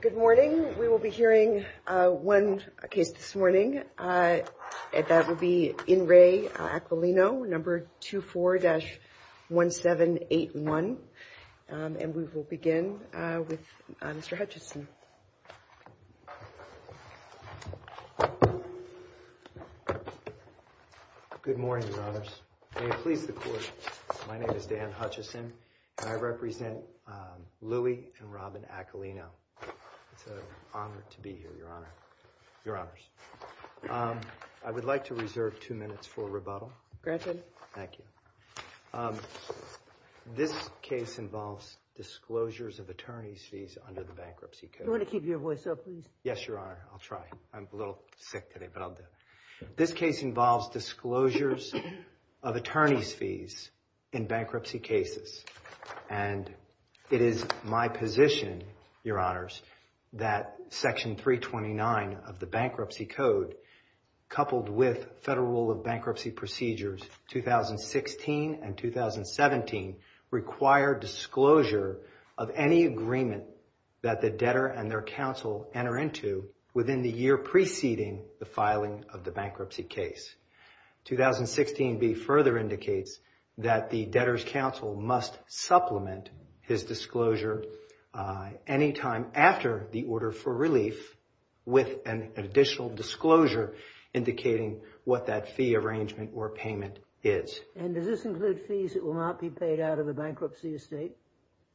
Good morning. We will be hearing one case this morning. That will be Inre Aquilino, number 24-1781. And we will begin with Mr. Hutchison. Good morning, Your Honors. May it please the Court, my name is Dan Hutchison and I represent Louie and Robin Aquilino. It's an honor to be here, Your Honors. I would like to reserve two minutes for rebuttal. This case involves disclosures of attorney's fees under the bankruptcy code. This case involves disclosures of attorney's fees in bankruptcy cases. And it is my position, Your Honors, that section 329 of the bankruptcy code, coupled with Federal Rule of Bankruptcy Procedures 2016 and 2017, require disclosure of any agreement that the debtor and their counsel enter into within the year preceding the filing of the bankruptcy case. 2016b further indicates that the debtor's counsel must supplement his disclosure any time after the order for relief with an additional disclosure indicating what that fee arrangement or payment is. And does this include fees that will not be paid out of the bankruptcy estate?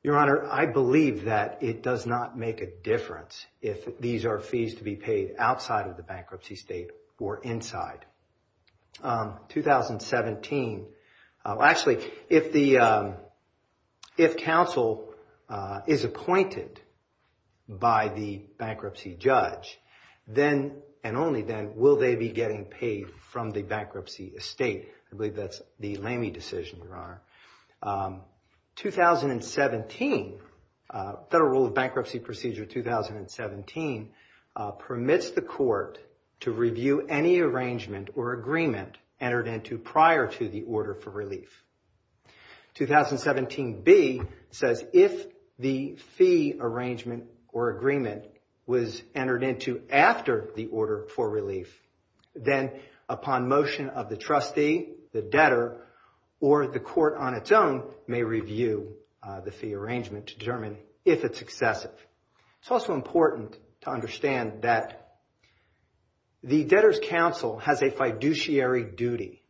Your Honor, I believe that it does not make a difference if these are fees to outside of the bankruptcy state or inside. 2017, actually, if counsel is appointed by the bankruptcy judge, then and only then will they be getting paid from the bankruptcy estate. I believe that's the Lamy decision, Your Honor. 2017, Federal Rule of Bankruptcy Procedure 2017 permits the court to review any arrangement or agreement entered into prior to the order for relief. 2017b says if the fee arrangement or agreement was entered into after the order for relief, then upon motion of the trustee, the debtor, or the court on its own may review the arrangement to determine if it's excessive. It's also important to understand that the debtor's counsel has a fiduciary duty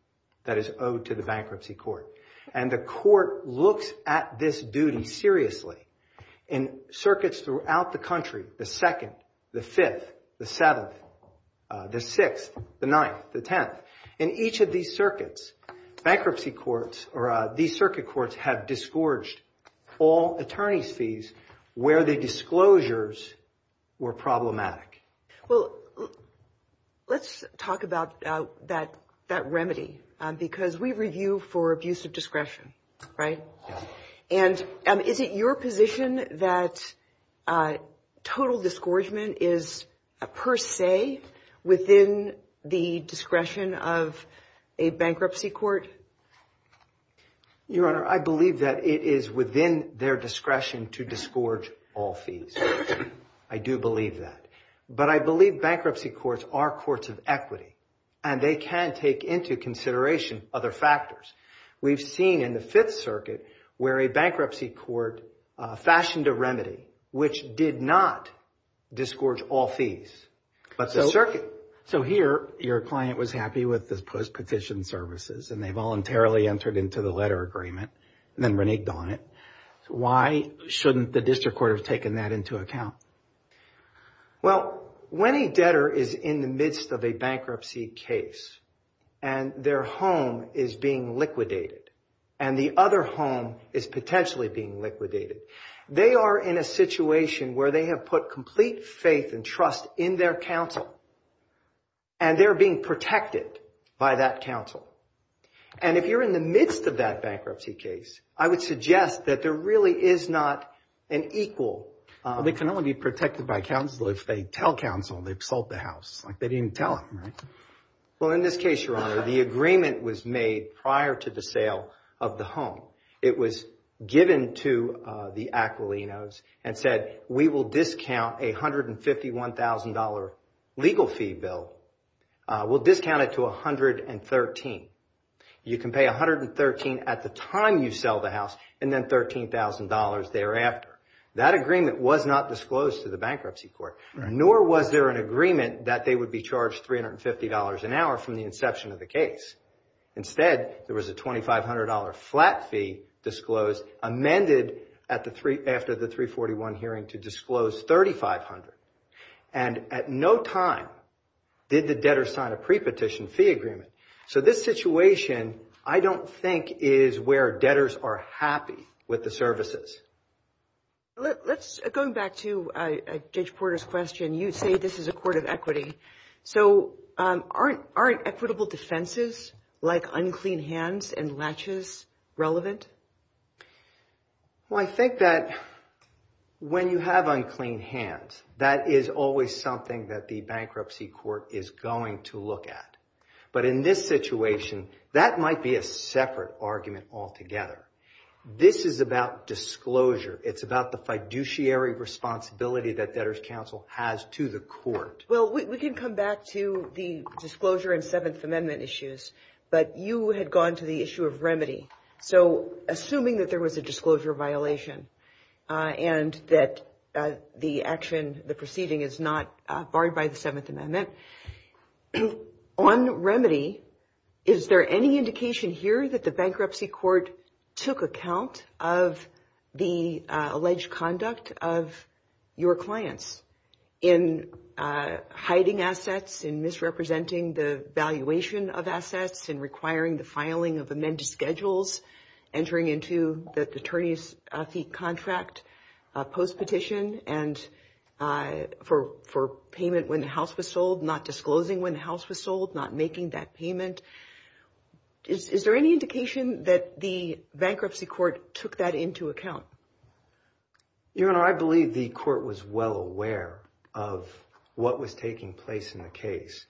that is owed to the bankruptcy court. And the court looks at this duty seriously in circuits throughout the country, the 2nd, the 5th, the 7th, the 6th, the 9th, the 10th. In each of these circuits, bankruptcy courts or these circuit courts have disgorged all attorneys' fees where the disclosures were problematic. Well, let's talk about that remedy because we review for abuse of discretion, right? And is it your position that total disgorgement is per se within the discretion of a bankruptcy court? Your Honor, I believe that it is within their discretion to disgorge all fees. I do believe that. But I believe bankruptcy courts are courts of equity and they can take into consideration other factors. We've seen in the 5th Circuit where a bankruptcy court fashioned a remedy which did not disgorge all fees, but the circuit... So here, your client was happy with the post-petition services and they voluntarily entered into the letter agreement and then reneged on it. Why shouldn't the district court have taken that into account? Well, when a debtor is in the midst of a bankruptcy case and their home is being liquidated and the other home is potentially being liquidated, they are in a situation where they have put complete faith and trust in their counsel and they're being protected by that counsel. And if you're in the midst of that bankruptcy case, I would suggest that there be no reason for them to be protected by counsel if they tell counsel they've sold the house. Like, they didn't even tell him, right? Well, in this case, your Honor, the agreement was made prior to the sale of the home. It was given to the Aquilinos and said, we will discount a $151,000 legal fee bill. We'll discount it to $113,000. You can pay $113,000 at the time you sell the house and then $13,000 thereafter. That agreement was not disclosed to the bankruptcy court, nor was there an agreement that they would be charged $350 an hour from the inception of the case. Instead, there was a $2,500 flat fee disclosed, amended after the 341 hearing to disclose $3,500. And at no time did the debtor sign a pre-petition fee agreement. So this situation, I don't think is where debtors are happy with the services. Going back to Judge Porter's question, you say this is a court of equity. So aren't equitable defenses like unclean hands and latches relevant? Well, I think that when you have unclean hands, that is always something that the bankruptcy court is going to look at. But in this situation, that might be a separate argument altogether. This is about disclosure. It's about the fiduciary responsibility that debtors counsel has to the court. Well, we can come back to the disclosure and Seventh Amendment issues, but you had gone to the issue of remedy. So assuming that there was a disclosure violation and that the action, the proceeding is not barred by the Seventh Amendment, on remedy, is there any indication here that the bankruptcy court took account of the alleged conduct of your clients in hiding assets, in misrepresenting the valuation of assets, in requiring the filing of amended schedules, entering into the attorney's fee contract post-petition, and for payment when the house was sold, not disclosing when the house was sold, not making that payment? Is there any indication that the bankruptcy court took that into account? Your Honor, I believe the court was well aware of what was taking place in the case.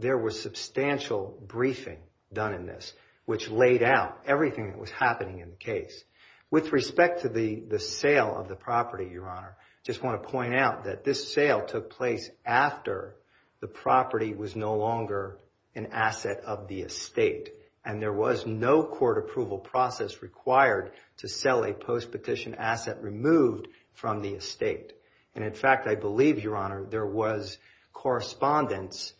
There was substantial briefing done in this, which laid out everything that was happening in the case. With respect to the sale of the property, Your Honor, I just want to point out that this sale took place after the property was no longer an asset of the estate. And there was no court approval process required to sell a post-petition asset removed from the estate. And in fact, I believe, Your Honor, there was correspondence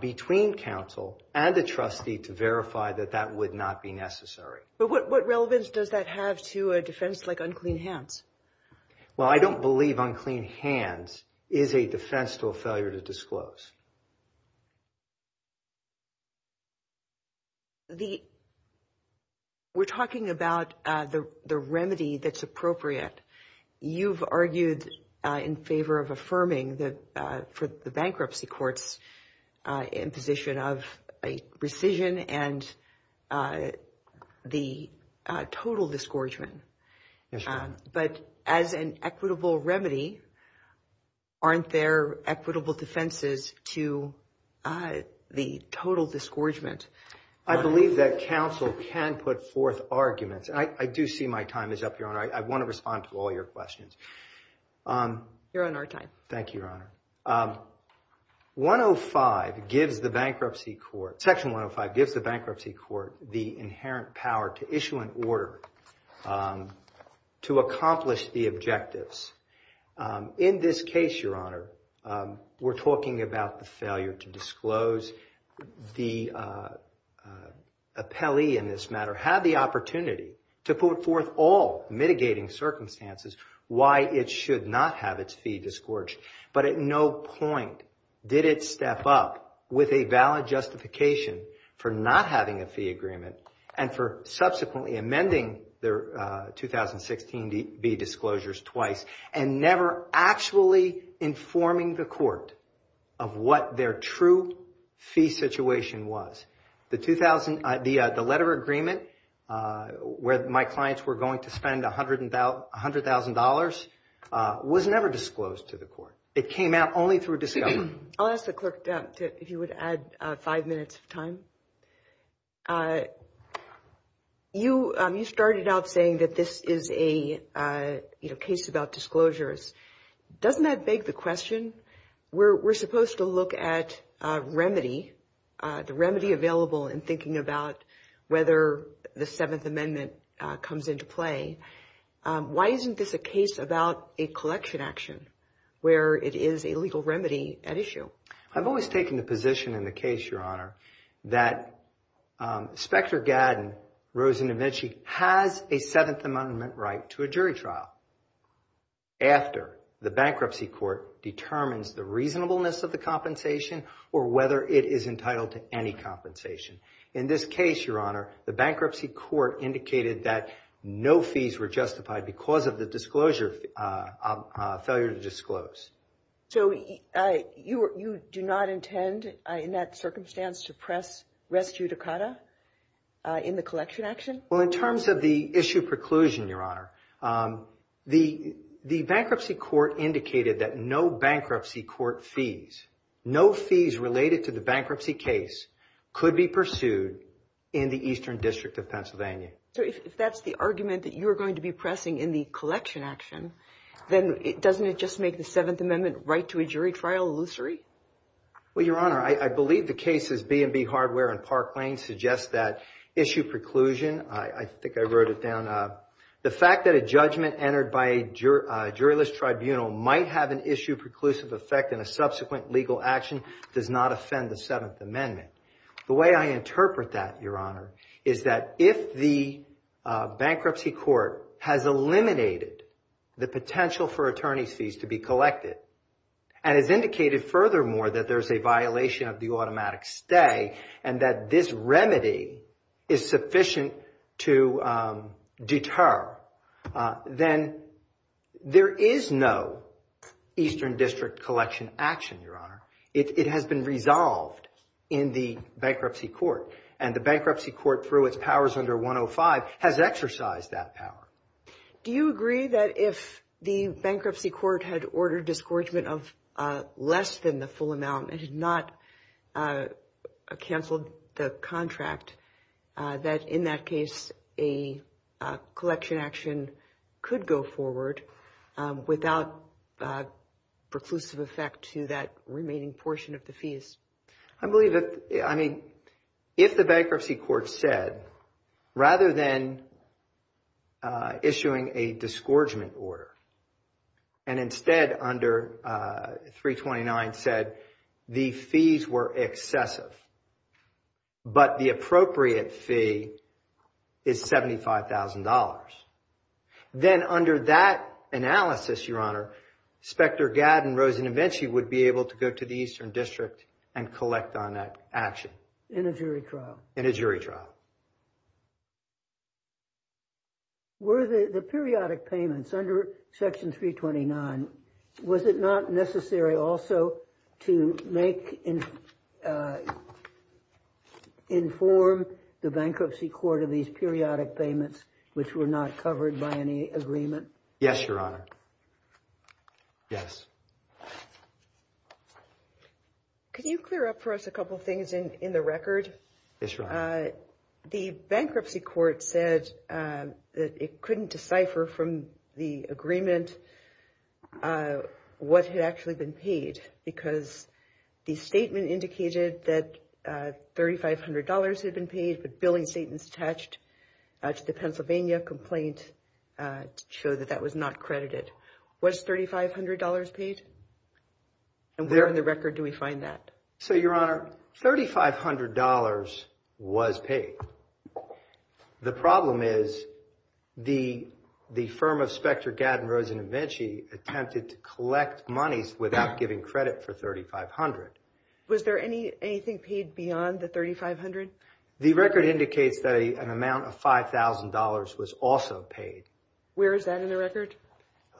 between counsel and the trustee to verify that that would not be necessary. But what relevance does that have to a defense like unclean hands? Well, I don't believe unclean hands is a defense to a failure to disclose. Your Honor, we're talking about the remedy that's appropriate. You've argued in favor of affirming for the bankruptcy court's imposition of a rescission and the total disgorgement. But as an equitable remedy, aren't there equitable defenses to the total disgorgement? I believe that counsel can put forth arguments. I do see my time is up, Your Honor. I want to respond to all your questions. You're on our time. Thank you, Your Honor. 105 gives the bankruptcy court, Section 105 gives the bankruptcy court the inherent power to issue an order to accomplish the objectives. In this case, Your Honor, we're talking about the failure to disclose. The appellee in this matter had the opportunity to put forth all mitigating circumstances why it should not have its fee disgorged. But at no point did it step up with a valid justification for not having a fee agreement and for subsequently amending their 2016-B disclosures twice and never actually informing the court of what their true fee situation was. The letter agreement where my clients were going to spend $100,000 was never disclosed to the court. It came out only through a discovery. I'll ask the clerk if you would add five minutes of time. You started out saying that this is a case about disclosures. Doesn't that beg the question? We're supposed to look at remedy, the remedy available in thinking about whether the Seventh Amendment comes into play. Why isn't this a case about a collection action where it is a legal remedy at issue? I've always taken the position in the case, Your Honor, that Inspector Gadden, Rosen and Vinci, has a Seventh Amendment right to a jury trial after the bankruptcy court determines the reasonableness of the compensation or whether it is entitled to any compensation. In this case, Your Honor, the bankruptcy court indicated that no fees were justified because of disclosure, failure to disclose. So you do not intend in that circumstance to press res judicata in the collection action? Well, in terms of the issue preclusion, Your Honor, the bankruptcy court indicated that no bankruptcy court fees, no fees related to the bankruptcy case, could be pursued in the Eastern District of Pennsylvania. So if that's the argument that you're going to be pressing in the collection action, then doesn't it just make the Seventh Amendment right to a jury trial illusory? Well, Your Honor, I believe the cases B&B Hardware and Park Lane suggest that issue preclusion, I think I wrote it down, the fact that a judgment entered by a juryless tribunal might have an issue preclusive effect in a subsequent legal action does not offend the Seventh Amendment. The way I interpret that, Your Honor, is that if the bankruptcy court has eliminated the potential for attorney's fees to be collected and has indicated furthermore that there's a violation of the automatic stay and that this remedy is sufficient to deter, then there is no Eastern District collection action, Your Honor. It has been resolved in the bankruptcy court and the bankruptcy court, through its powers under 105, has exercised that power. Do you agree that if the bankruptcy court had ordered discouragement of less than the full amount and did not cancel the contract, that in that case a collection action could go forward without preclusive effect to that remaining portion of the fees? I believe that, I mean, if the bankruptcy court said, rather than issuing a disgorgement order and instead under 329 said the fees were excessive, but the appropriate fee is $75,000, then under that analysis, Your Honor, Spector Gad and Rosen-Avenci would be able to go to the Eastern District and collect on that action. In a jury trial? In a jury trial. Were the periodic payments under Section 329, was it not necessary also to make and inform the bankruptcy court of these periodic payments which were not covered by any agreement? Yes, Your Honor. Yes. Could you clear up for us a couple things in the record? The bankruptcy court said that it couldn't decipher from the agreement what had actually been paid because the statement indicated that $3,500 had been paid, but billing statements attached to the Pennsylvania complaint show that that was not credited. Was $3,500 paid? And where in the record do we find that? So, Your Honor, $3,500 was paid. The problem is the firm of Spector Gad and Rosen-Avenci attempted to collect monies without giving credit for $3,500. Was there anything paid beyond the $3,500? The record indicates that an amount of $5,000 was also paid. Where is that in the record?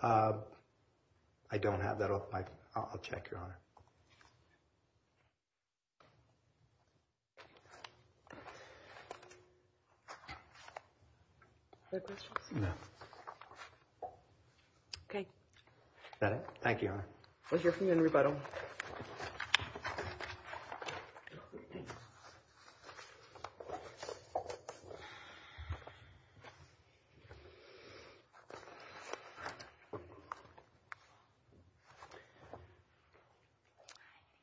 I don't have that. I'll check, Your Honor. Other questions? No. Okay. Is that it? Thank you, Your Honor. Thank you for your rebuttal. Hi, thank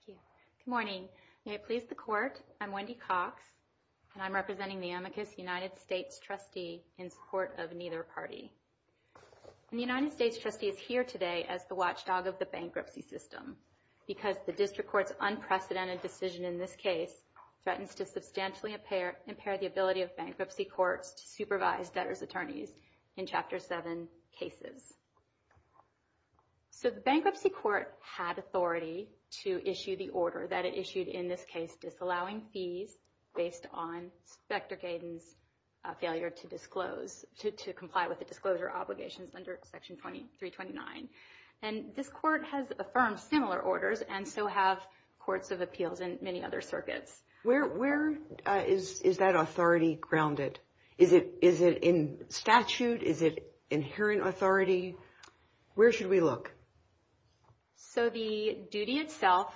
you. Good morning. May it please the Court, I'm Wendy Cox and I'm representing the Amicus United States trustee in support of neither party. The United States trustee is here today as the watchdog of the bankruptcy system because the district court's unprecedented decision in this case threatens to substantially impair the ability of bankruptcy courts to supervise debtors' attorneys in Chapter 7 cases. So the bankruptcy court had authority to issue the order that it failed to comply with the disclosure obligations under Section 329. And this court has affirmed similar orders and so have courts of appeals and many other circuits. Where is that authority grounded? Is it in statute? Is it inherent authority? Where should we look? So the duty itself,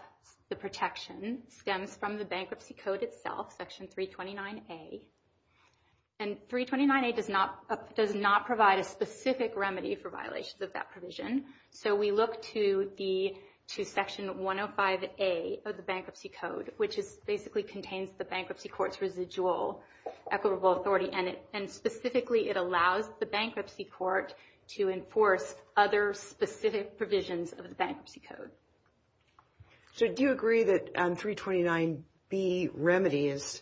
the protection, stems from the bankruptcy code itself, Section 329A. And 329A does not provide a specific remedy for violations of that provision. So we look to Section 105A of the bankruptcy code, which basically contains the bankruptcy court's residual equitable authority. And specifically, it allows the bankruptcy court to enforce other specific provisions of the bankruptcy code. So do you agree that 329B remedy is,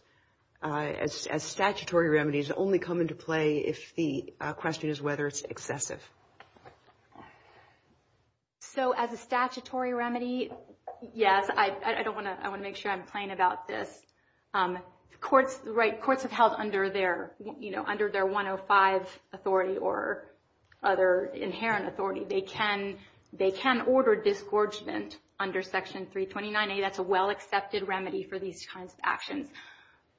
as statutory remedies, only come into play if the question is whether it's excessive? So as a statutory remedy, yes. I don't want to, I want to make sure I'm plain about this. Courts, right, courts have held under their, you know, under their 105 authority or other inherent authority, they can, they can order disgorgement under Section 329A. That's a well accepted remedy for these kinds of actions.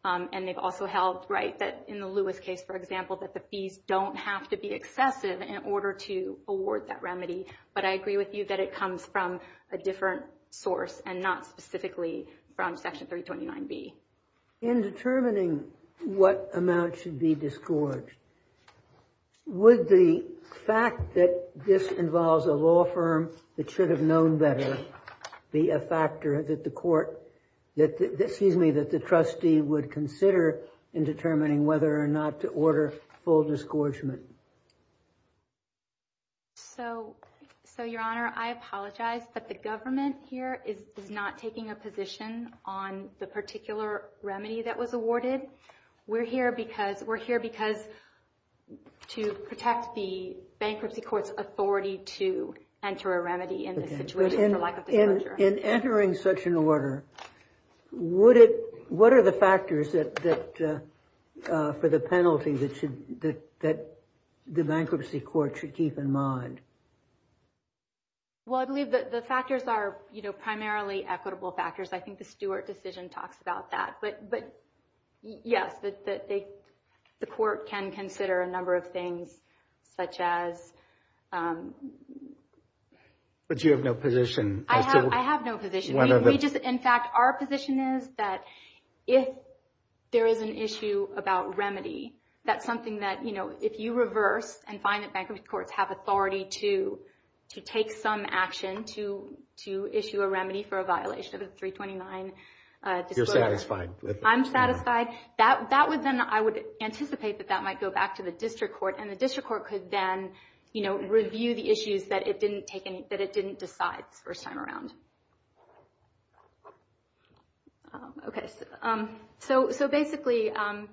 And they've also held, right, that in the Lewis case, for example, that the fees don't have to be excessive in order to award that remedy. But I agree with you that it comes from a different source and not specifically from Section 329B. In determining what amount should be disgorged, would the fact that this involves a law firm that should have known better be a factor that the court, that, excuse me, that the trustee would consider in determining whether or not to order full disgorgement? So, so, Your Honor, I apologize, but the government here is not taking a position on the particular remedy that was awarded. We're here because, we're here because to protect the bankruptcy court's authority to enter a remedy in this situation for lack of disclosure. In entering such an order, would it, what are the factors that, that for the penalty that should, that the bankruptcy court should keep in mind? Well, I believe that the factors are, you know, primarily equitable factors. I think the Stewart decision talks about that. But, but yes, that they, the court can consider a number of things such as. But you have no position. I have no position. We just, in fact, our position is that if there is an issue about remedy, that's something that, you know, if you reverse and find that bankruptcy courts have authority to, to take some action to, to issue a remedy for a violation of the 329 disclosure. You're satisfied? I'm satisfied. That, that would then, I would anticipate that that might go back to the district court. And the district court could then, you know, review the issues that it didn't take any, that it didn't decide the first time around. Okay. So, so basically, and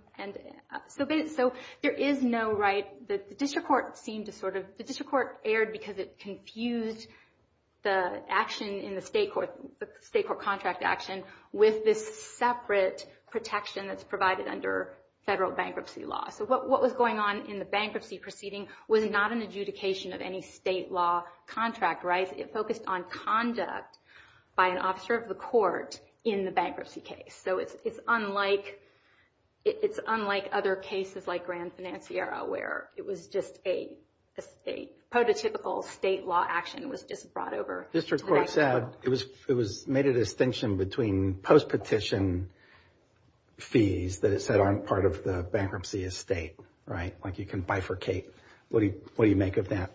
so, so there is no right, the district court seemed to sort of, the district court erred because it confused the action in the state court, the state court contract action with this separate protection that's provided under federal bankruptcy law. So what, what was going on in the bankruptcy proceeding was not an adjudication of any law contract, right? It focused on conduct by an officer of the court in the bankruptcy case. So it's, it's unlike, it's unlike other cases like Grand Financiera, where it was just a, a state, prototypical state law action was just brought over. District court said it was, it was made a distinction between post-petition fees that it said aren't part of the bankruptcy estate, right? Like you can bifurcate. What do you, what do you make of that?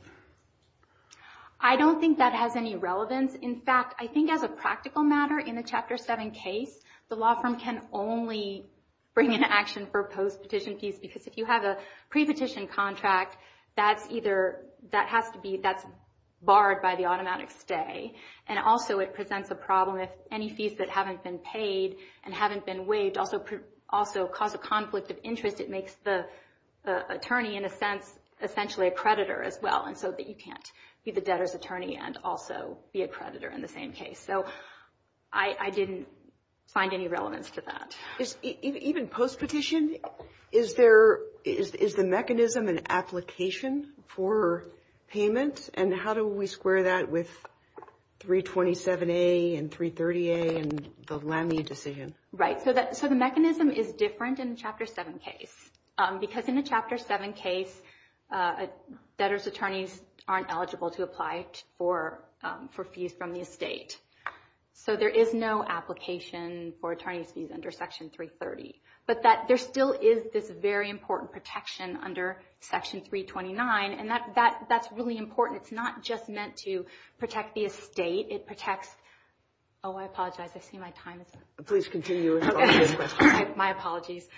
I don't think that has any relevance. In fact, I think as a practical matter in the Chapter 7 case, the law firm can only bring an action for post-petition fees, because if you have a pre-petition contract, that's either, that has to be, that's barred by the automatic stay. And also it presents a problem if any fees that haven't been paid and haven't been waived also, also cause a conflict of interest. It makes the attorney in a sense, essentially a creditor as well. And so that you can't be the debtor's attorney and also be a creditor in the same case. So I, I didn't find any relevance to that. Is, even post-petition, is there, is, is the mechanism an application for payment? And how do we square that with 327A and 330A and the Lemney decision? Right. So that, so the mechanism is different in Chapter 7 case, because in the Chapter 7 case, debtor's attorneys aren't eligible to apply for, for fees from the estate. So there is no application for attorney's fees under Section 330, but that there still is this very important protection under Section 329. And that, that, that's really important. It's not just meant to protect the estate. It protects, oh, I apologize. I see my time is up. Please continue. My apologies.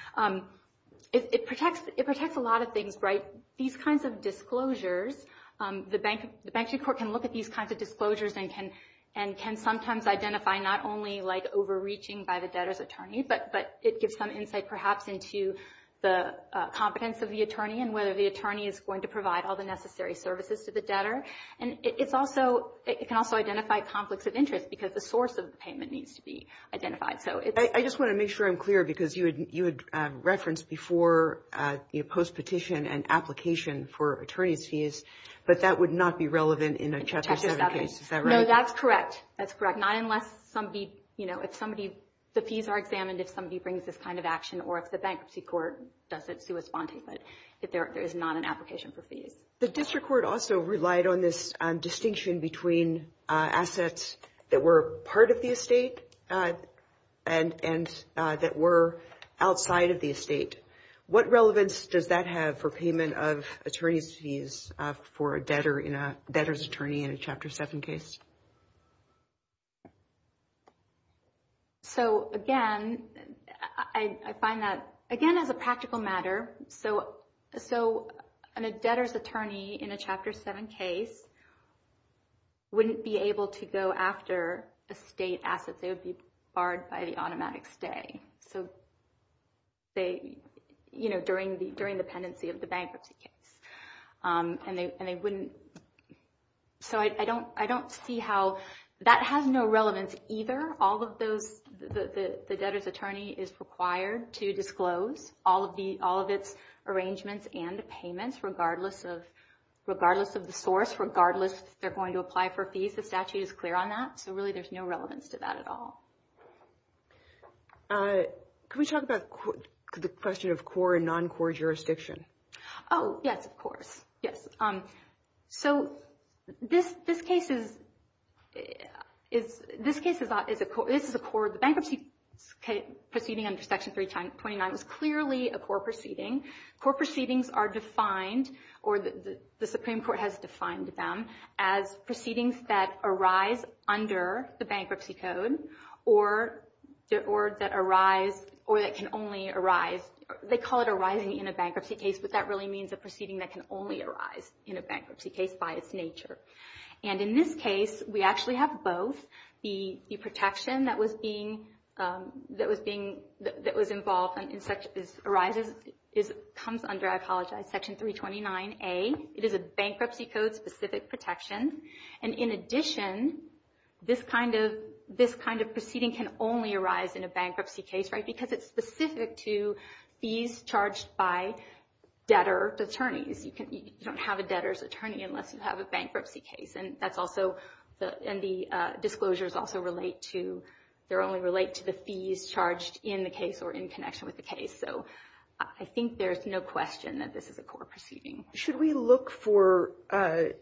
It protects, it protects a lot of things, right? These kinds of disclosures, the bank, the bankruptcy court can look at these kinds of disclosures and can, and can sometimes identify not only like overreaching by the debtor's attorney, but, but it gives some insight perhaps into the competence of the attorney and whether the attorney is going to provide all the necessary services to the debtor. And it's also, it can also identify conflicts of interest because the source of the payment needs to be identified. So it's... I just want to make sure I'm clear because you had, you had referenced before, you know, post-petition and application for attorney's fees, but that would not be relevant in a Chapter 7 case. Is that right? No, that's correct. That's correct. Not unless somebody, you know, if somebody, the fees are examined, if somebody brings this kind of action or if the bankruptcy court does it sui sponte, but if there, there is not an application for fees. The district court also relied on this distinction between assets that were part of the estate and that were outside of the estate. What relevance does that have for payment of attorney's fees for a debtor in a debtor's attorney in a Chapter 7 case? So, again, I find that, again, as a practical matter, so, so an, a debtor's attorney in a Chapter 7 case wouldn't be able to go after estate assets. They would be barred by the automatic stay. So they, you know, during the, during the pendency of the bankruptcy case, and they, and they wouldn't, so I don't, I don't see how that has no relevance either. All of those, the, the debtor's attorney is required to disclose all of the, all of its arrangements and the payments regardless of, regardless of the source, regardless if they're going to apply for fees. The statute is clear on that. So really there's no relevance to that at all. Can we talk about the question of core and non-core jurisdiction? Oh, yes, of course. Yes. So this, this case is, is, this case is a, is a, this is a core, the bankruptcy proceeding under Section 329 is clearly a core proceeding. Core proceedings are defined, or the Supreme Court has defined them as proceedings that arise under the bankruptcy code or, or that arise, or that can only arise. They call it arising in a bankruptcy case, but that really means a proceeding that can only arise in a bankruptcy case by its nature. And in this case, we actually have both. The, the protection that was being, that was being, that was involved in such as arises, is, comes under, I apologize, Section 329a. It is a bankruptcy code specific protection. And in addition, this kind of, this kind of proceeding can only arise in a bankruptcy case, right? Because it's specific to fees charged by debtor attorneys. You can, you don't have a debtor's attorney unless you have a bankruptcy case. And that's also the, and the disclosures also relate to, they only relate to the fees charged in the case or in connection with the case. So I think there's no question that this is a core proceeding. Should we look for, for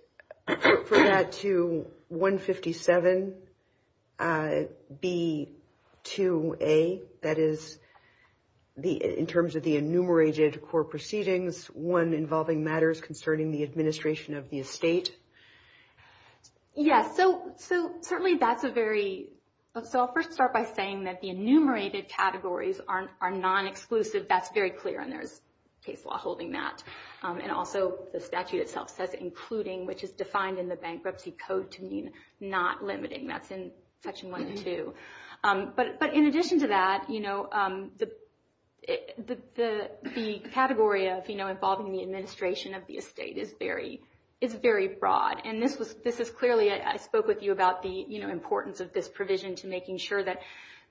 that to 157B2A? That is the, in terms of the enumerated core proceedings, one involving matters concerning the administration of the estate? Yes. So, so certainly that's a very, so I'll first start by saying that the enumerated categories are non-exclusive. That's very clear. And there's case law holding that. And also the statute itself says including, which is defined in the bankruptcy code to mean not limiting. That's in Section 1 and 2. But, but in addition to that, you know, the, the, the category of, you know, involving the administration of the estate is very, is very broad. And this was, this is clearly, I spoke with you about the, you know, importance of this provision to making sure that,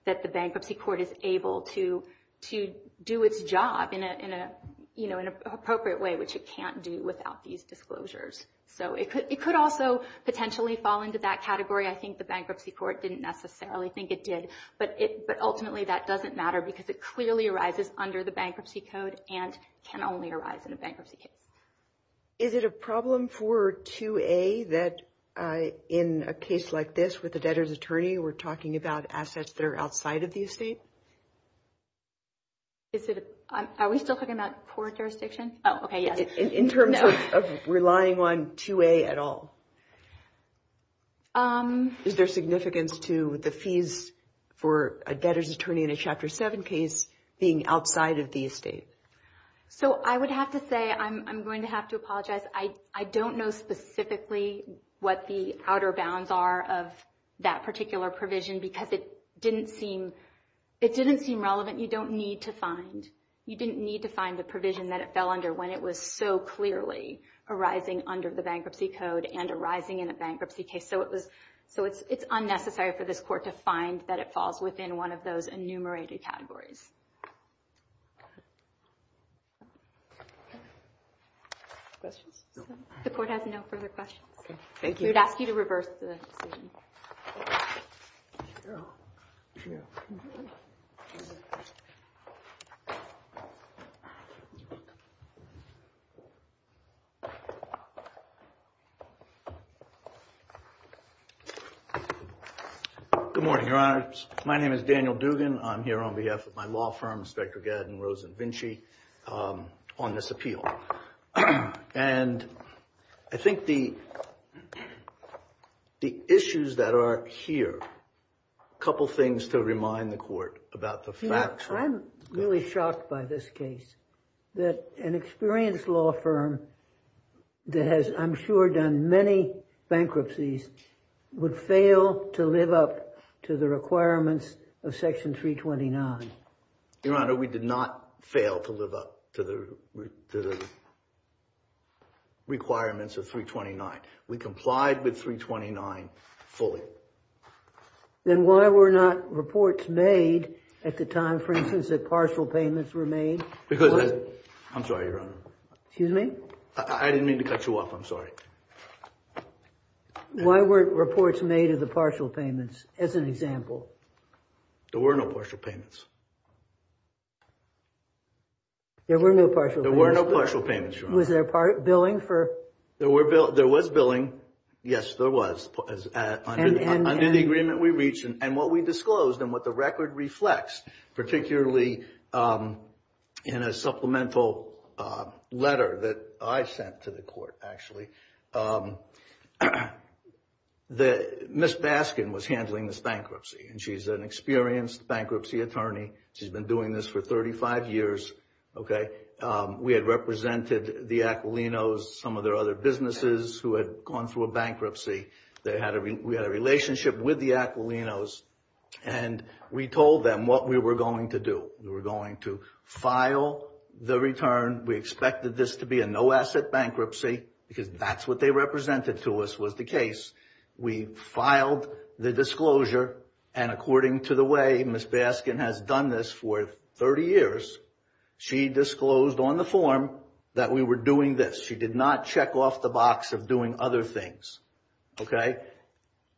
that the bankruptcy court is able to, to do its job in a, in a, you know, in an appropriate way, which it can't do without these disclosures. So it could, it could also potentially fall into that category. I think the bankruptcy court didn't necessarily think it did, but it, but ultimately that doesn't matter because it clearly arises under the bankruptcy code and can only arise in a bankruptcy case. Is it a problem for 2A that in a case like this with the debtor's attorney, we're talking about assets that are outside of the estate? Is it, are we still talking about court jurisdiction? Oh, okay. Yes. In terms of relying on 2A at all. Is there significance to the fees for a debtor's attorney in a Chapter 7 case being outside of the estate? So I would have to say, I'm, I'm going to have to apologize. I, it didn't seem, it didn't seem relevant. You don't need to find, you didn't need to find the provision that it fell under when it was so clearly arising under the bankruptcy code and arising in a bankruptcy case. So it was, so it's, it's unnecessary for this court to find that it falls within one of those enumerated categories. Questions? The court has no further questions. Thank you. We would ask you to reverse the decision. Good morning, Your Honors. My name is Daniel Dugan. I'm here on behalf of my law firm, Inspector Gadden Rosenvinchi, on this appeal. And I think the, the issues that are here, a couple things to remind the court about the facts. I'm really shocked by this case, that an experienced law firm that has, I'm sure, done many bankruptcies would fail to live up to the requirements of Section 329. Your Honor, we did not fail to live up to the requirements of 329. We complied with 329 fully. Then why were not reports made at the time, for instance, that partial payments were made? Because, I'm sorry, Your Honor. Excuse me? I didn't mean to cut you off. I'm sorry. Why weren't reports made of the partial payments, as an example? There were no partial payments. There were no partial payments? There were no partial payments, Your Honor. Was there billing for? There were, there was billing. Yes, there was. Under the agreement we reached and what we disclosed and what the record reflects, particularly in a supplemental letter that I sent to the court, actually, that Ms. Baskin was handling this bankruptcy. And she's an experienced bankruptcy attorney. She's been doing this for 35 years, okay? We had represented the Aquilinos, some of their other businesses who had gone through a bankruptcy. They had, we had a relationship with the Aquilinos and we told them what we were going to do. We were going to file the return. We expected this to be a no-asset bankruptcy because that's what they represented to us was the case. We filed the disclosure and according to the way Ms. Baskin has done this for 30 years, she disclosed on the form that we were doing this. She did not check off the box of doing other things, okay?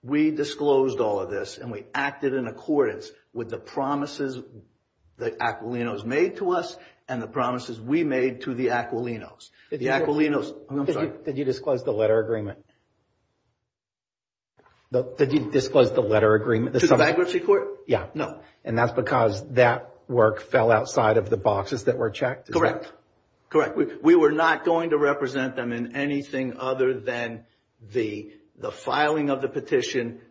We disclosed all of this and we acted in accordance with the promises the Aquilinos made to us and the promises we made to the Aquilinos. The Aquilinos, I'm sorry. Did you disclose the letter agreement? Did you disclose the letter agreement? To the bankruptcy court? Yeah. No. And that's because that work fell outside of the boxes that were checked? Correct. Correct. We were not going to represent them in anything other than the filing of the petition,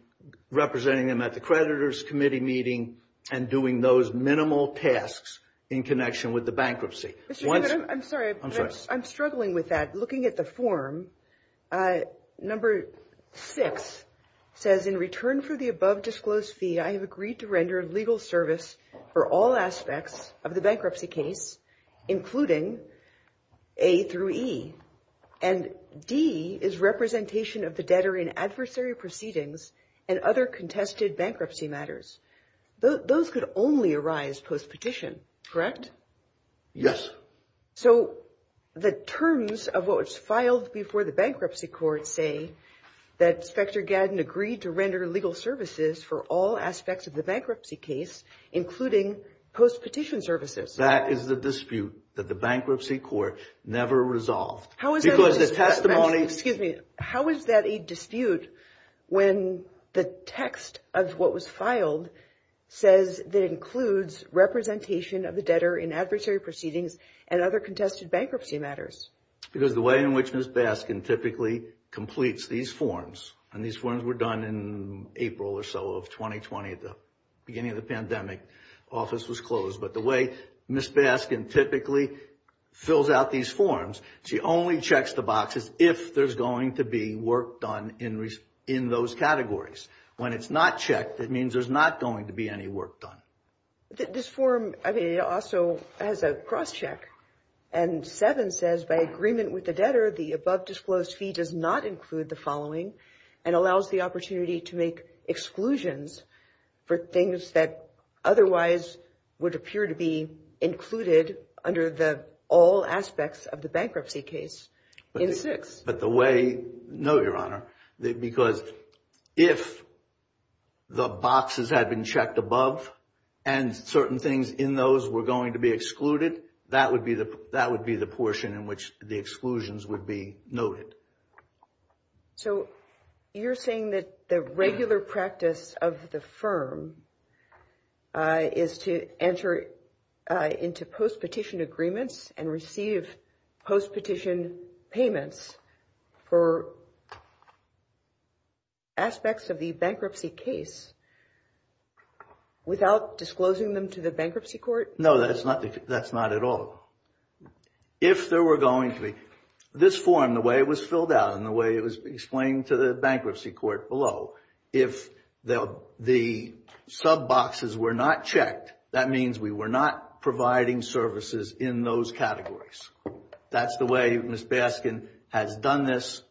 representing them at the creditor's committee meeting and doing those minimal tasks in connection with the bankruptcy. I'm sorry. I'm struggling with that. Looking at the form, number six says, in return for the above disclosed fee, I have agreed to render legal service for all aspects of the bankruptcy case, including A through E. And D is representation of the debtor in adversary proceedings and other contested bankruptcy matters. Those could only arise post-petition, correct? Yes. So the terms of what was filed before the bankruptcy court say that Specter Gadden agreed to render legal services for all aspects of the bankruptcy case, including post-petition services. That is the dispute that the bankruptcy court never resolved. How is that a dispute when the text of what was filed says that includes representation of the debtor in adversary proceedings and other contested bankruptcy matters? Because the way in which Ms. Baskin typically completes these forms, and these forms were done in April or so of 2020 at the beginning of the pandemic, the office was closed. But the way Ms. Baskin typically fills out these forms, she only checks the boxes if there's going to be work done in those categories. When it's not checked, that means there's not going to be any work done. This form also has a cross-check. And seven says, by agreement with the debtor, the above-disclosed fee does not include the following and allows the opportunity to make exclusions for things that otherwise would appear to be included under the all aspects of the bankruptcy case in six. But the way, no, Your Honor, because if the boxes had been checked above and certain things in those were going to be excluded, that would be the portion in which the exclusions would be noted. So you're saying that the regular practice of the firm is to enter into post-petition agreements and receive post-petition payments for aspects of the bankruptcy case without disclosing them to the bankruptcy court? No, that's not, that's not at all. If there were going to be, this form, the way it was filled out and the way it was explained to the bankruptcy court below, if the sub-boxes were not checked, that means we were not providing services in those categories. That's the way Ms. Baskin has done this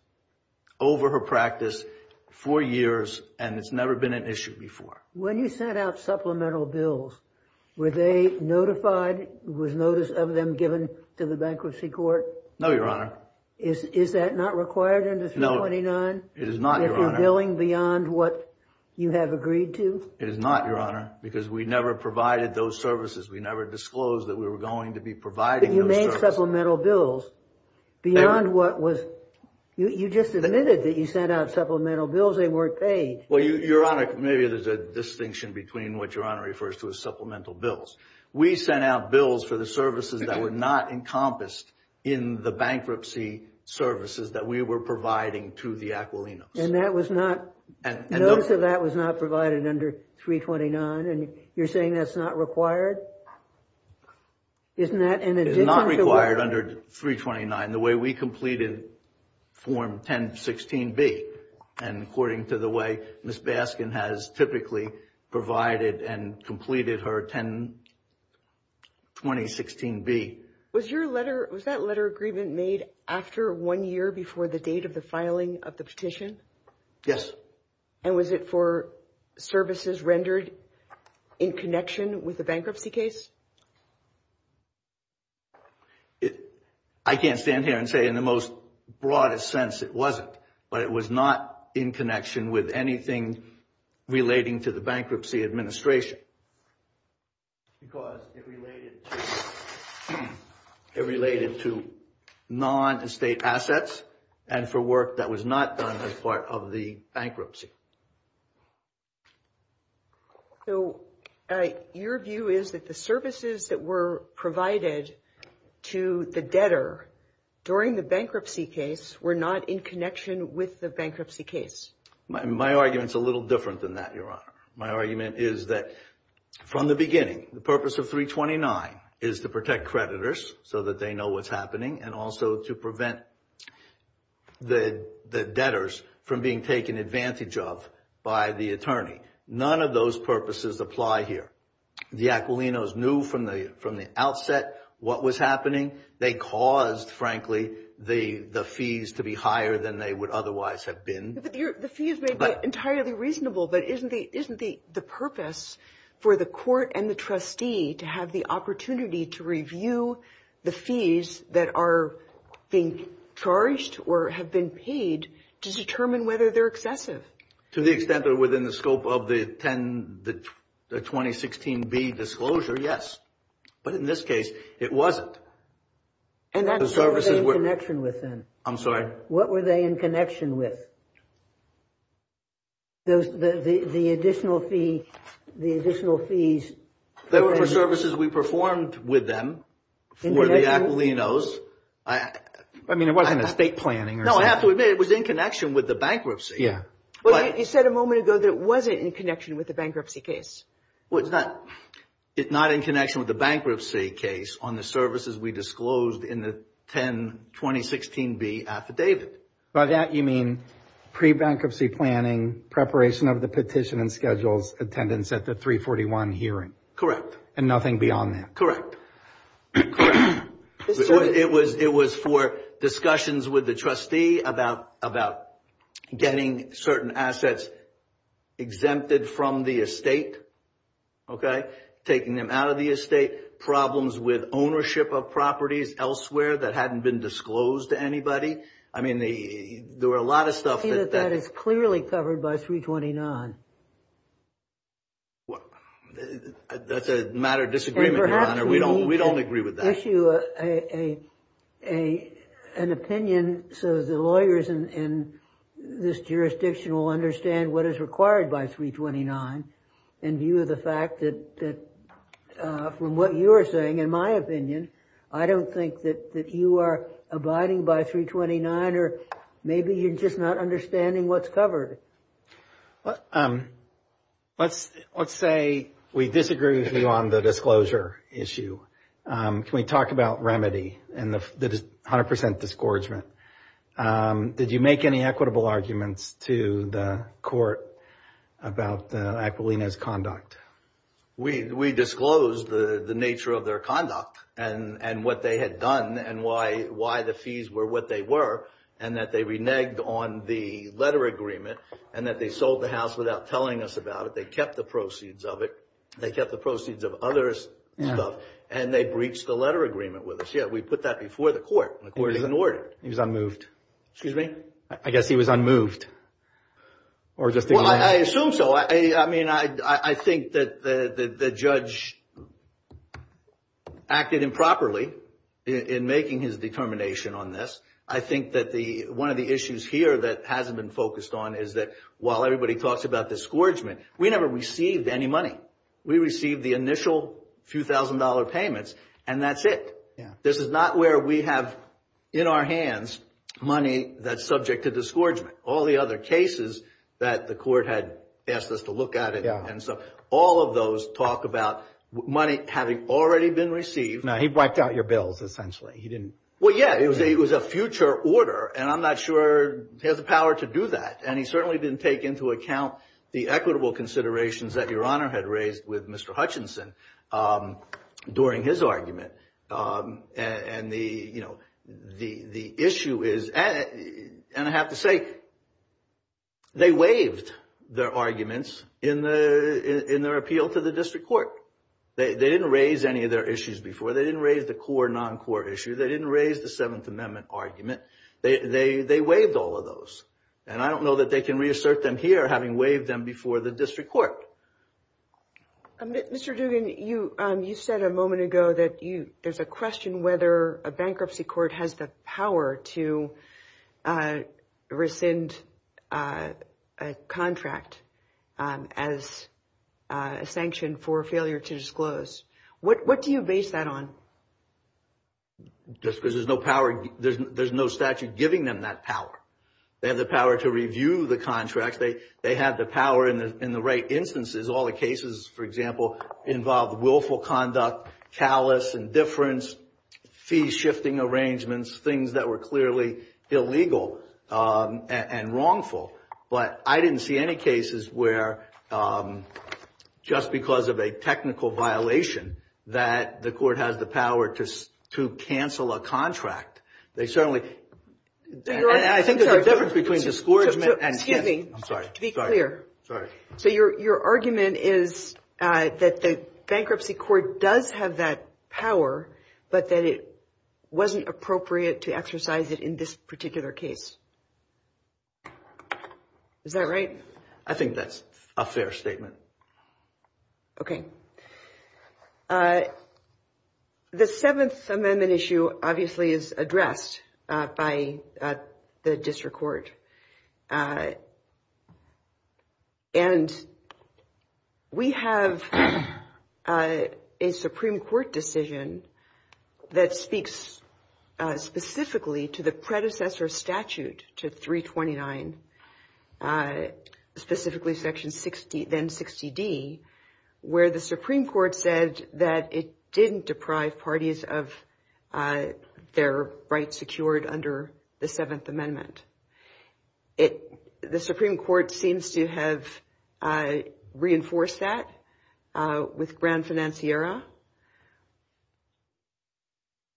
over her practice for years and it's never been an issue before. When you sent out supplemental bills, were they notified, was notice of them given to the bankruptcy court? No, Your Honor. Is that not required under 329? No, it is not, Your Honor. If you're billing beyond what you have agreed to? It is not, Your Honor, because we never provided those services. We never disclosed that we were going to be providing those services. But you made supplemental bills beyond what was, you just admitted that you sent out supplemental bills, they weren't paid. Well, Your Honor, maybe there's a distinction between what Your Honor refers to as supplemental bills. We sent out bills for the services that were not encompassed in the bankruptcy services that we were providing to the Aquilinos. And that was not, notice of that was not provided under 329 and you're saying that's not required? Isn't that in addition to... It's not required under 329. The way we completed Form 1016B and according to the way Ms. Baskin has typically provided and completed her 10 2016B. Was your letter, was that letter agreement made after one year before the date of the filing of the petition? Yes. And was it for services rendered in connection with the bankruptcy case? I can't stand here and say in the most broadest sense it wasn't, but it was not in connection with anything relating to the bankruptcy administration. Because it related to non-estate assets and for work that was not done as part of the bankruptcy. So your view is that the services that were provided to the debtor during the bankruptcy case were not in connection with the bankruptcy case? My argument is a little different than that, Your Honor. My argument is that from the beginning, the purpose of 329 is to protect creditors so that they know what's and also to prevent the debtors from being taken advantage of by the attorney. None of those purposes apply here. The Aquilinos knew from the outset what was happening. They caused, frankly, the fees to be higher than they would otherwise have been. The fees may be entirely reasonable, but isn't the purpose for the court and the trustee to have the opportunity to review the fees that are being charged or have been paid to determine whether they're excessive? To the extent that within the scope of the 2016B disclosure, yes. But in this case, it wasn't. And what were they in connection with then? I'm sorry? What were they in connection with? The additional fees. They were for services we performed with them for the Aquilinos. I mean, it wasn't estate planning or something. No, I have to admit it was in connection with the bankruptcy. Yeah. But you said a moment ago that it wasn't in connection with the bankruptcy case. Well, it's not in connection with the bankruptcy case on the services we disclosed in the 10-2016B affidavit. By that, you mean pre-bankruptcy planning, preparation of the petition and schedules, attendance at the 341 hearing? And nothing beyond that? Correct. It was for discussions with the trustee about getting certain assets exempted from the estate, taking them out of the estate, problems with ownership of properties elsewhere that hadn't been disclosed to anybody. I mean, there were a lot of stuff. I see that that is clearly covered by 329. That's a matter of disagreement, Your Honor. We don't agree with that. And perhaps we can issue an opinion so the lawyers in this jurisdiction will understand what is required by 329 in view of the fact that from what you are saying, in my opinion, I don't think that you are abiding by 329 or maybe you're just not understanding what's covered. Let's say we disagree with you on the disclosure issue. Can we talk about remedy and the 100% disgorgement? Did you make any equitable arguments to the court about Aquilina's conduct? We disclosed the nature of their conduct and what they had done and why the fees were what they were and that they reneged on the letter agreement and that they sold the house without telling us about it. They kept the proceeds of it. They kept the proceeds of others' stuff and they breached the letter agreement with us. Yeah, we put that before the court. The court ignored it. He was unmoved. Excuse me? I guess he was unmoved. Well, I assume so. I mean, I think that the judge acted improperly in making his determination on this. I think that one of the issues here that hasn't been focused on is that while everybody talks about disgorgement, we never received any money. We received the initial few thousand dollar payments and that's it. This is not where we have in our hands money that's subject to all the other cases that the court had asked us to look at it. And so all of those talk about money having already been received. No, he wiped out your bills essentially. He didn't. Well, yeah, it was a future order and I'm not sure he has the power to do that. And he certainly didn't take into account the equitable considerations that Your Honor had raised with Mr. Hutchinson during his argument. And the issue is, and I have to say, they waived their arguments in their appeal to the district court. They didn't raise any of their issues before. They didn't raise the core non-core issue. They didn't raise the Seventh Amendment argument. They waived all of those. And I don't know that they can reassert them here having waived them before the district court. Mr. Duggan, you said a moment ago that there's a question whether a bankruptcy court has the power to rescind a contract as a sanction for failure to disclose. What do you base that on? Just because there's no power, there's no statute giving them that power. They have the power to review the contracts. They have the power in the right instances. All the cases, for example, involve willful conduct, callous, indifference, fee-shifting arrangements, things that were clearly illegal and wrongful. But I didn't see any cases where just because of a technical violation that the court has the power to cancel a contract. They certainly... I think there's a difference between discouragement and... Excuse me. I'm sorry. To be clear. Sorry. So your argument is that the bankruptcy court does have that power, but that it wasn't appropriate to exercise it in this particular case. Is that right? I think that's a fair statement. Okay. The Seventh Amendment issue obviously is addressed by the district court. And we have a Supreme Court decision that speaks specifically to the predecessor statute to 329, specifically Section 60, then 60D, where the Supreme Court said that it didn't deprive parties of their rights secured under the Seventh Amendment. The Supreme Court seems to have reinforced that with Grand Financiera.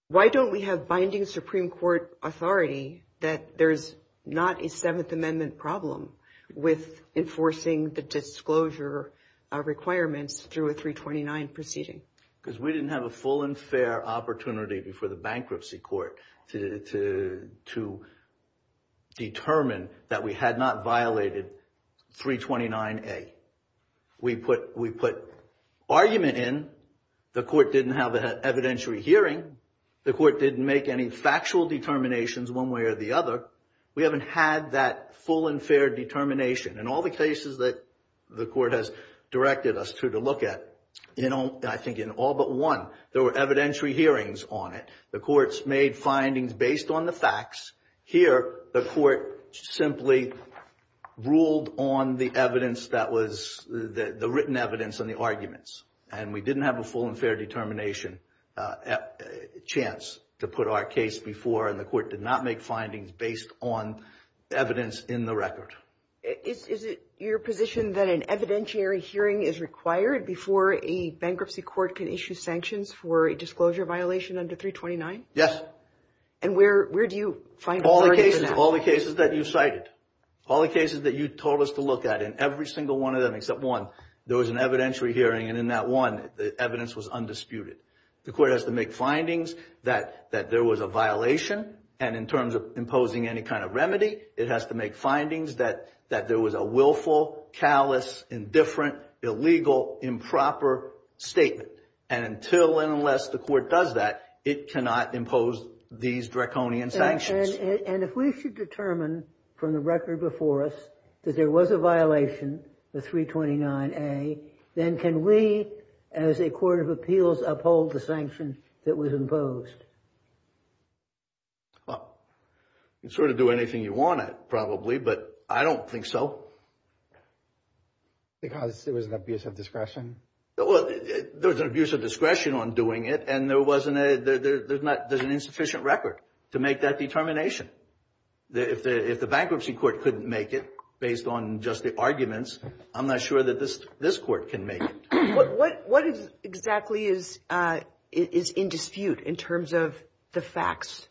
Why don't we have binding Supreme Court authority that there's not a Seventh Amendment problem with enforcing the disclosure requirements through a 329 proceeding? Because we didn't have a full and fair opportunity before the bankruptcy court to determine that we had not violated 329A. We put argument in, the court didn't have an evidentiary hearing, the court didn't make any factual determinations one way or the other. We haven't had that full and fair determination. In all the cases that the court has directed us to look at, I think in all but one, there were evidentiary hearings on it. The courts made findings based on the facts. Here, the court simply ruled on the written evidence and the arguments. We didn't have a full and fair determination chance to put our case before, and the court did not make findings based on evidence in the record. Is it your position that an evidentiary hearing is required before a bankruptcy court can issue sanctions for a disclosure violation under 329? Yes. And where do you find authority for that? All the cases that you cited, all the cases that you told us to look at, every single one of them except one, there was an evidentiary hearing, and in that one, the evidence was undisputed. The court has to make findings that there was a violation, and in terms of imposing any kind of remedy, it has to make findings that there was a willful, callous, indifferent, illegal, improper statement. And until and unless the court does that, it cannot impose these draconian sanctions. And if we should determine from the record before us that there was a violation, the 329A, then can we, as a court of appeals, uphold the sanction that was imposed? Well, you can sort of do anything you want at it, probably, but I don't think so. Because there was an abuse of discretion? There was an abuse of discretion on doing it, and there's an insufficient record to make that determination. If the bankruptcy court couldn't make it based on just the arguments, I'm not sure that this court can make it. What exactly is in dispute in terms of the facts?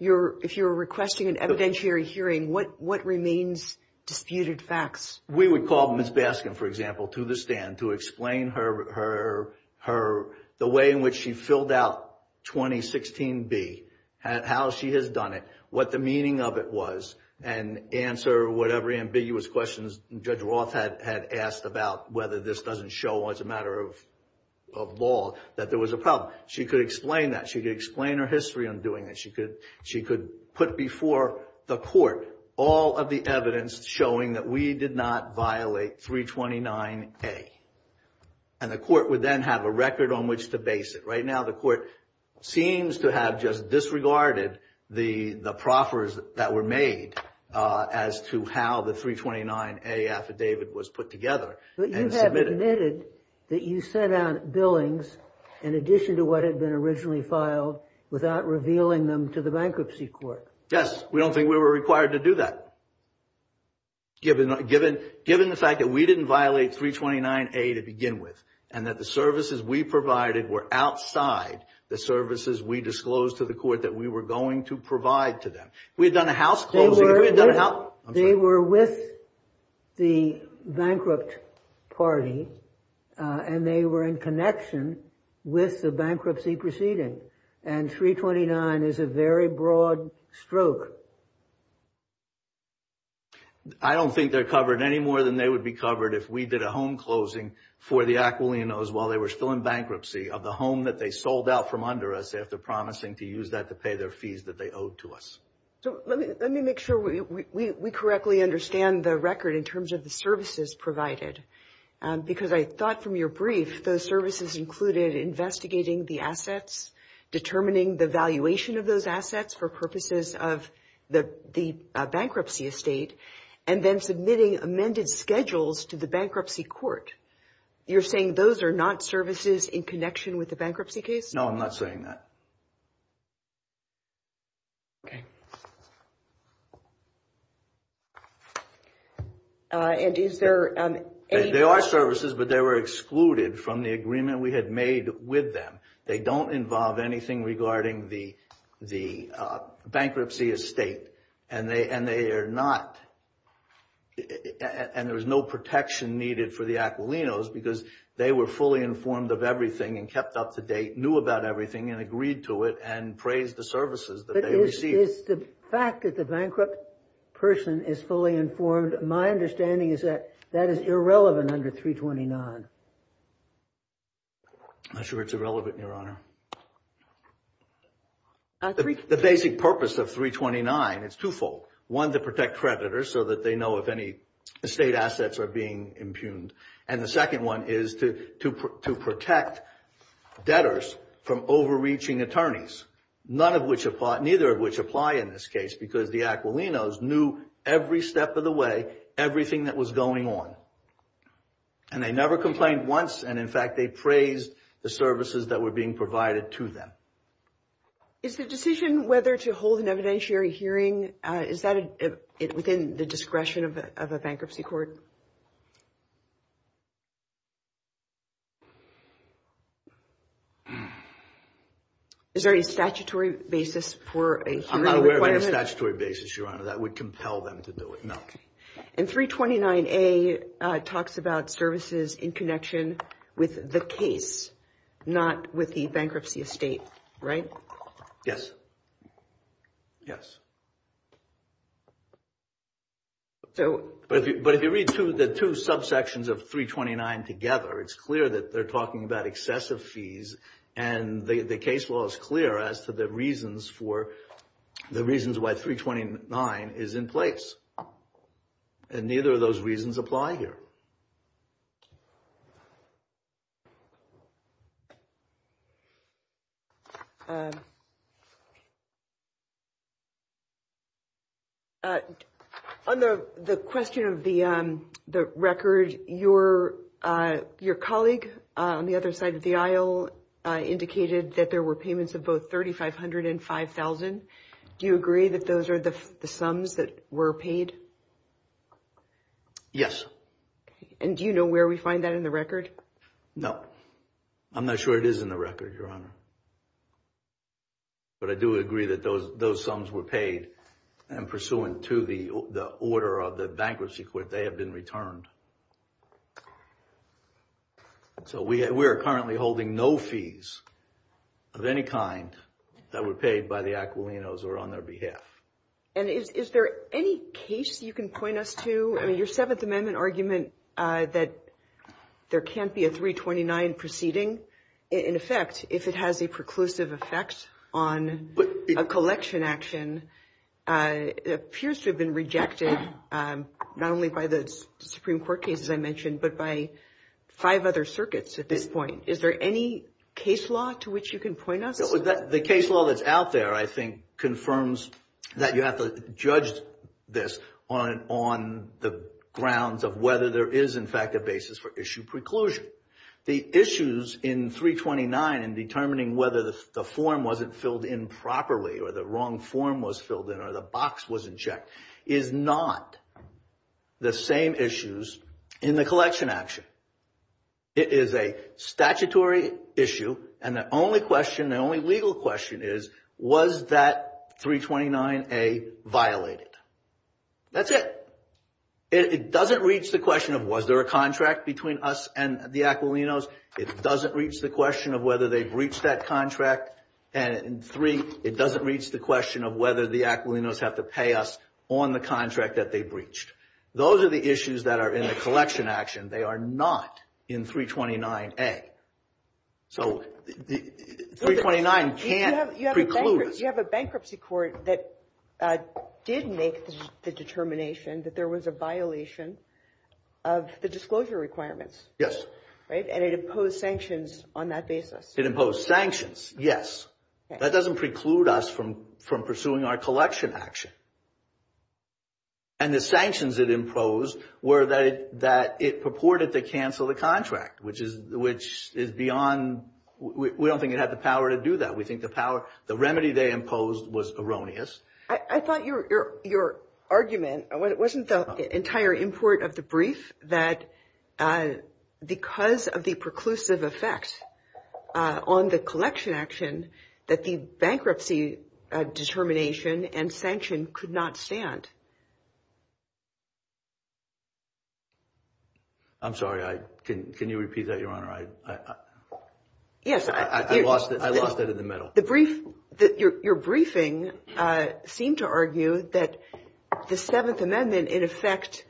If you're requesting an evidentiary hearing, what remains disputed facts? We would call Ms. Baskin, for example, to the stand to explain her, the way in which she filled out 2016B, how she has done it, what the meaning of it was, and answer whatever ambiguous questions Judge Roth had asked about whether this doesn't show, as a matter of law, that there was a problem. She could explain that. She could explain her history on doing it. She could put before the court all of the evidence showing that we did not violate 329A. And the court would then have a record on which to base it. Right now, the court seems to have just disregarded the proffers that were made as to how the 329A affidavit was put together. But you have admitted that you sent out billings, in addition to what had been originally filed, without revealing them to the bankruptcy court. Yes. We don't think we were required to do that, given the fact that we didn't violate 329A to begin with, and that the services we provided were outside the services we disclosed to the court that we were going to provide to them. We had done a house closing. They were with the bankrupt party, and they were in connection with the bankruptcy proceeding. And 329 is a very broad stroke. I don't think they're covered any more than they would be covered if we did a home closing for the Aquilinos while they were still in bankruptcy of the home that they sold out from under us after promising to use that to pay their fees that they owed to us. So let me make sure we correctly understand the record in terms of the services provided. Because I thought from your brief, those services included investigating the assets, determining the valuation of those assets for purposes of the bankruptcy estate, and then submitting amended schedules to the bankruptcy court. You're saying those are not services in connection with the bankruptcy case? No, I'm not saying that. Okay. And is there any... They are services, but they were excluded from the agreement we had made with them. They don't involve anything regarding the bankruptcy estate, and they are not... And there was no protection needed for the Aquilinos because they were fully informed of everything and kept up to date, knew about everything, and agreed to it, and praised the services that they received. But is the fact that the bankrupt person is fully informed, my understanding is that that is irrelevant under 329. I'm not sure it's irrelevant, Your Honor. The basic purpose of 329 is twofold. One, to protect creditors so that they know if any state assets are being impugned. And the second one is to protect debtors from overreaching attorneys, neither of which apply in this case because the Aquilinos knew every step of the way, everything that was going on. And they never complained once. And in fact, they praised the services that were being provided to them. Is the decision whether to hold an evidentiary hearing, is that within the discretion of a bankruptcy court? Is there a statutory basis for a hearing? I'm not aware of any statutory basis, Your Honor. That would compel them to do it, no. And 329A talks about services in connection with the case, not with the bankruptcy estate, right? Yes. Yes. But if you read the two subsections of 329 together, it's clear that they're talking about excessive fees. And the case law is clear as to the reasons for, the reasons why 329 is in place. And neither of those reasons apply here. On the question of the record, your colleague on the other side of the aisle indicated that there were payments of both 3,500 and 5,000. Do you agree that those are the sums that were paid? Yes. And do you know where we find that in the record? No. I'm not sure it is in the record, Your Honor. But I do agree that those sums were paid and pursuant to the order of the bankruptcy court, they have been returned. So we are currently holding no fees of any kind that were paid by the Aquilinos or on their behalf. And is there any case you can point us to? I mean, your Seventh Amendment argument that there can't be a 329 proceeding in effect if it has a preclusive effect on a collection action appears to have been rejected not only by the Supreme Court cases I mentioned, but by five other circuits at this point. Is there any case law to which you can point us? The case law that's out there, I think, confirms that you have to judge this on the grounds of whether there is, in fact, a basis for issue preclusion. The issues in 329 in determining whether the form wasn't filled in properly or the wrong form was filled in or the box wasn't checked is not the same issues in the collection action. It is a statutory issue and the only question, the only legal question is, was that 329A violated? That's it. It doesn't reach the question of was there a contract between us and the Aquilinos. It doesn't reach the question of whether they breached that contract. And three, it doesn't reach the question of whether the Aquilinos have to pay us on the contract that they breached. Those are the issues that are in the collection action. They are not in 329A. So 329 can't preclude us. You have a bankruptcy court that did make the determination that there was a violation of the disclosure requirements. Yes. Right, and it imposed sanctions on that basis. It imposed sanctions, yes. That doesn't preclude us from pursuing our collection action. And the sanctions it imposed were that it purported to cancel the contract, which is beyond, we don't think it had the power to do that. We think the power, the remedy they imposed was erroneous. I thought your argument, it wasn't the entire import of the brief, that because of the preclusive effects on the collection action that the bankruptcy determination and sanction could not stand. I'm sorry, I, can you repeat that, Your Honor, I lost it in the middle. The brief, your briefing seemed to argue that the Seventh Amendment, in effect,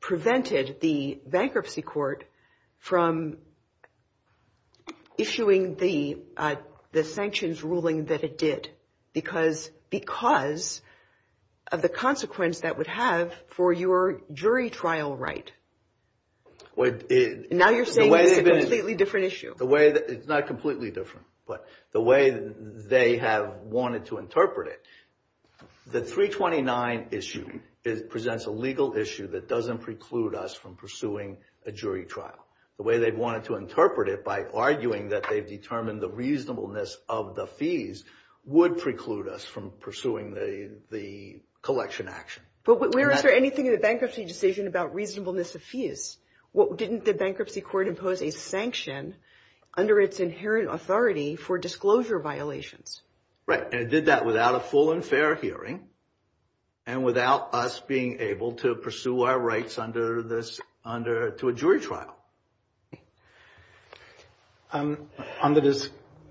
prevented the bankruptcy court from issuing the sanctions ruling that it did because of the consequence that would have for your jury trial right. Now you're saying it's a completely different issue. It's not completely different, but the way they have wanted to interpret it, the 329 issue presents a legal issue that doesn't preclude us from pursuing a jury trial. The way they've wanted to interpret it by arguing that they've determined the reasonableness of the fees would preclude us from pursuing the collection action. But was there anything in the bankruptcy decision about reasonableness of fees? Didn't the bankruptcy court impose a sanction under its inherent authority for disclosure violations? Right, and it did that without a full and fair hearing and without us being able to pursue our rights under this, under, to a jury trial. On the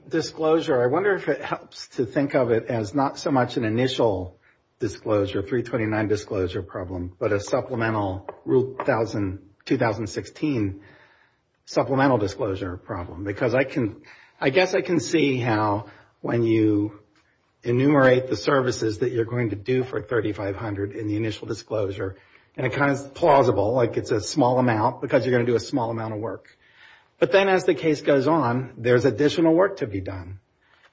disclosure, I wonder if it helps to think of it as not so much an initial disclosure, 329 disclosure problem, but a supplemental rule thousand, 2016 supplemental disclosure problem. Because I can, I guess I can see how when you enumerate the services that you're going to do for 3,500 in the initial disclosure, and it kind of plausible, like it's a small amount because you're going to do a small amount of work. But then as the case goes on, there's additional work to be done,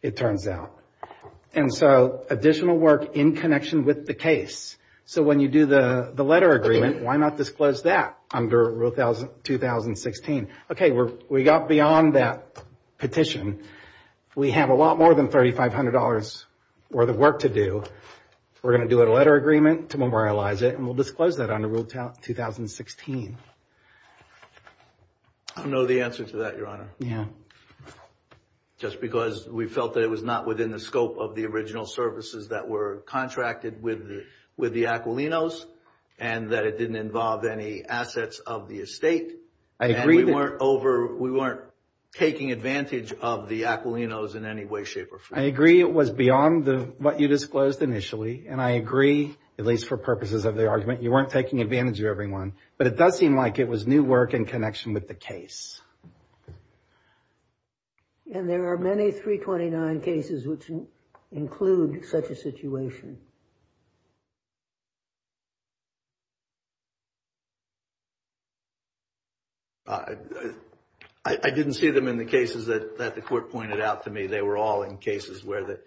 it turns out. And so additional work in connection with the case. So when you do the letter agreement, why not disclose that under rule thousand, 2016? Okay, we're, we got beyond that petition. We have a lot more than $3,500 worth of work to do. We're going to do a letter agreement to memorialize it, and we'll disclose that under rule 2016. I don't know the answer to that, Your Honor. Just because we felt that it was not within the scope of the original services that were contracted with the Aquilinos, and that it didn't involve any assets of the estate. I agree. We weren't over, we weren't taking advantage of the Aquilinos in any way, shape, or form. I agree it was beyond what you disclosed initially. And I agree, at least for purposes of the argument, you weren't taking advantage of But it does seem like it was new work in connection with the case. And there are many 329 cases which include such a situation. I didn't see them in the cases that the court pointed out to me. They were all in cases where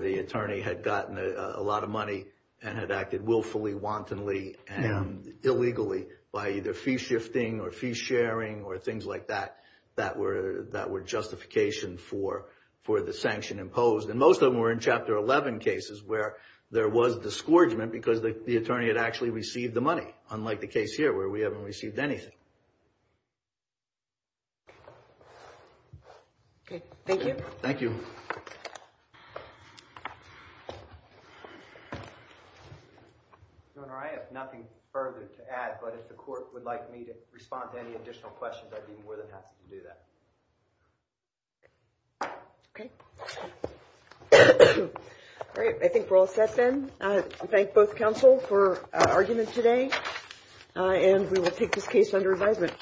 the attorney had gotten a lot of money, and had acted willfully, wantonly, and illegally by either fee shifting, or fee sharing, or things like that, that were justification for the sanction imposed. And most of them were in Chapter 11 cases where there was disgorgement because the attorney had actually received the money, unlike the case here where we haven't received anything. Okay, thank you. Thank you. Governor, I have nothing further to add, but if the court would like me to respond to any additional questions, I'd be more than happy to do that. Okay. All right, I think we're all set then. I thank both counsel for our argument today, and we will take this case under advisement.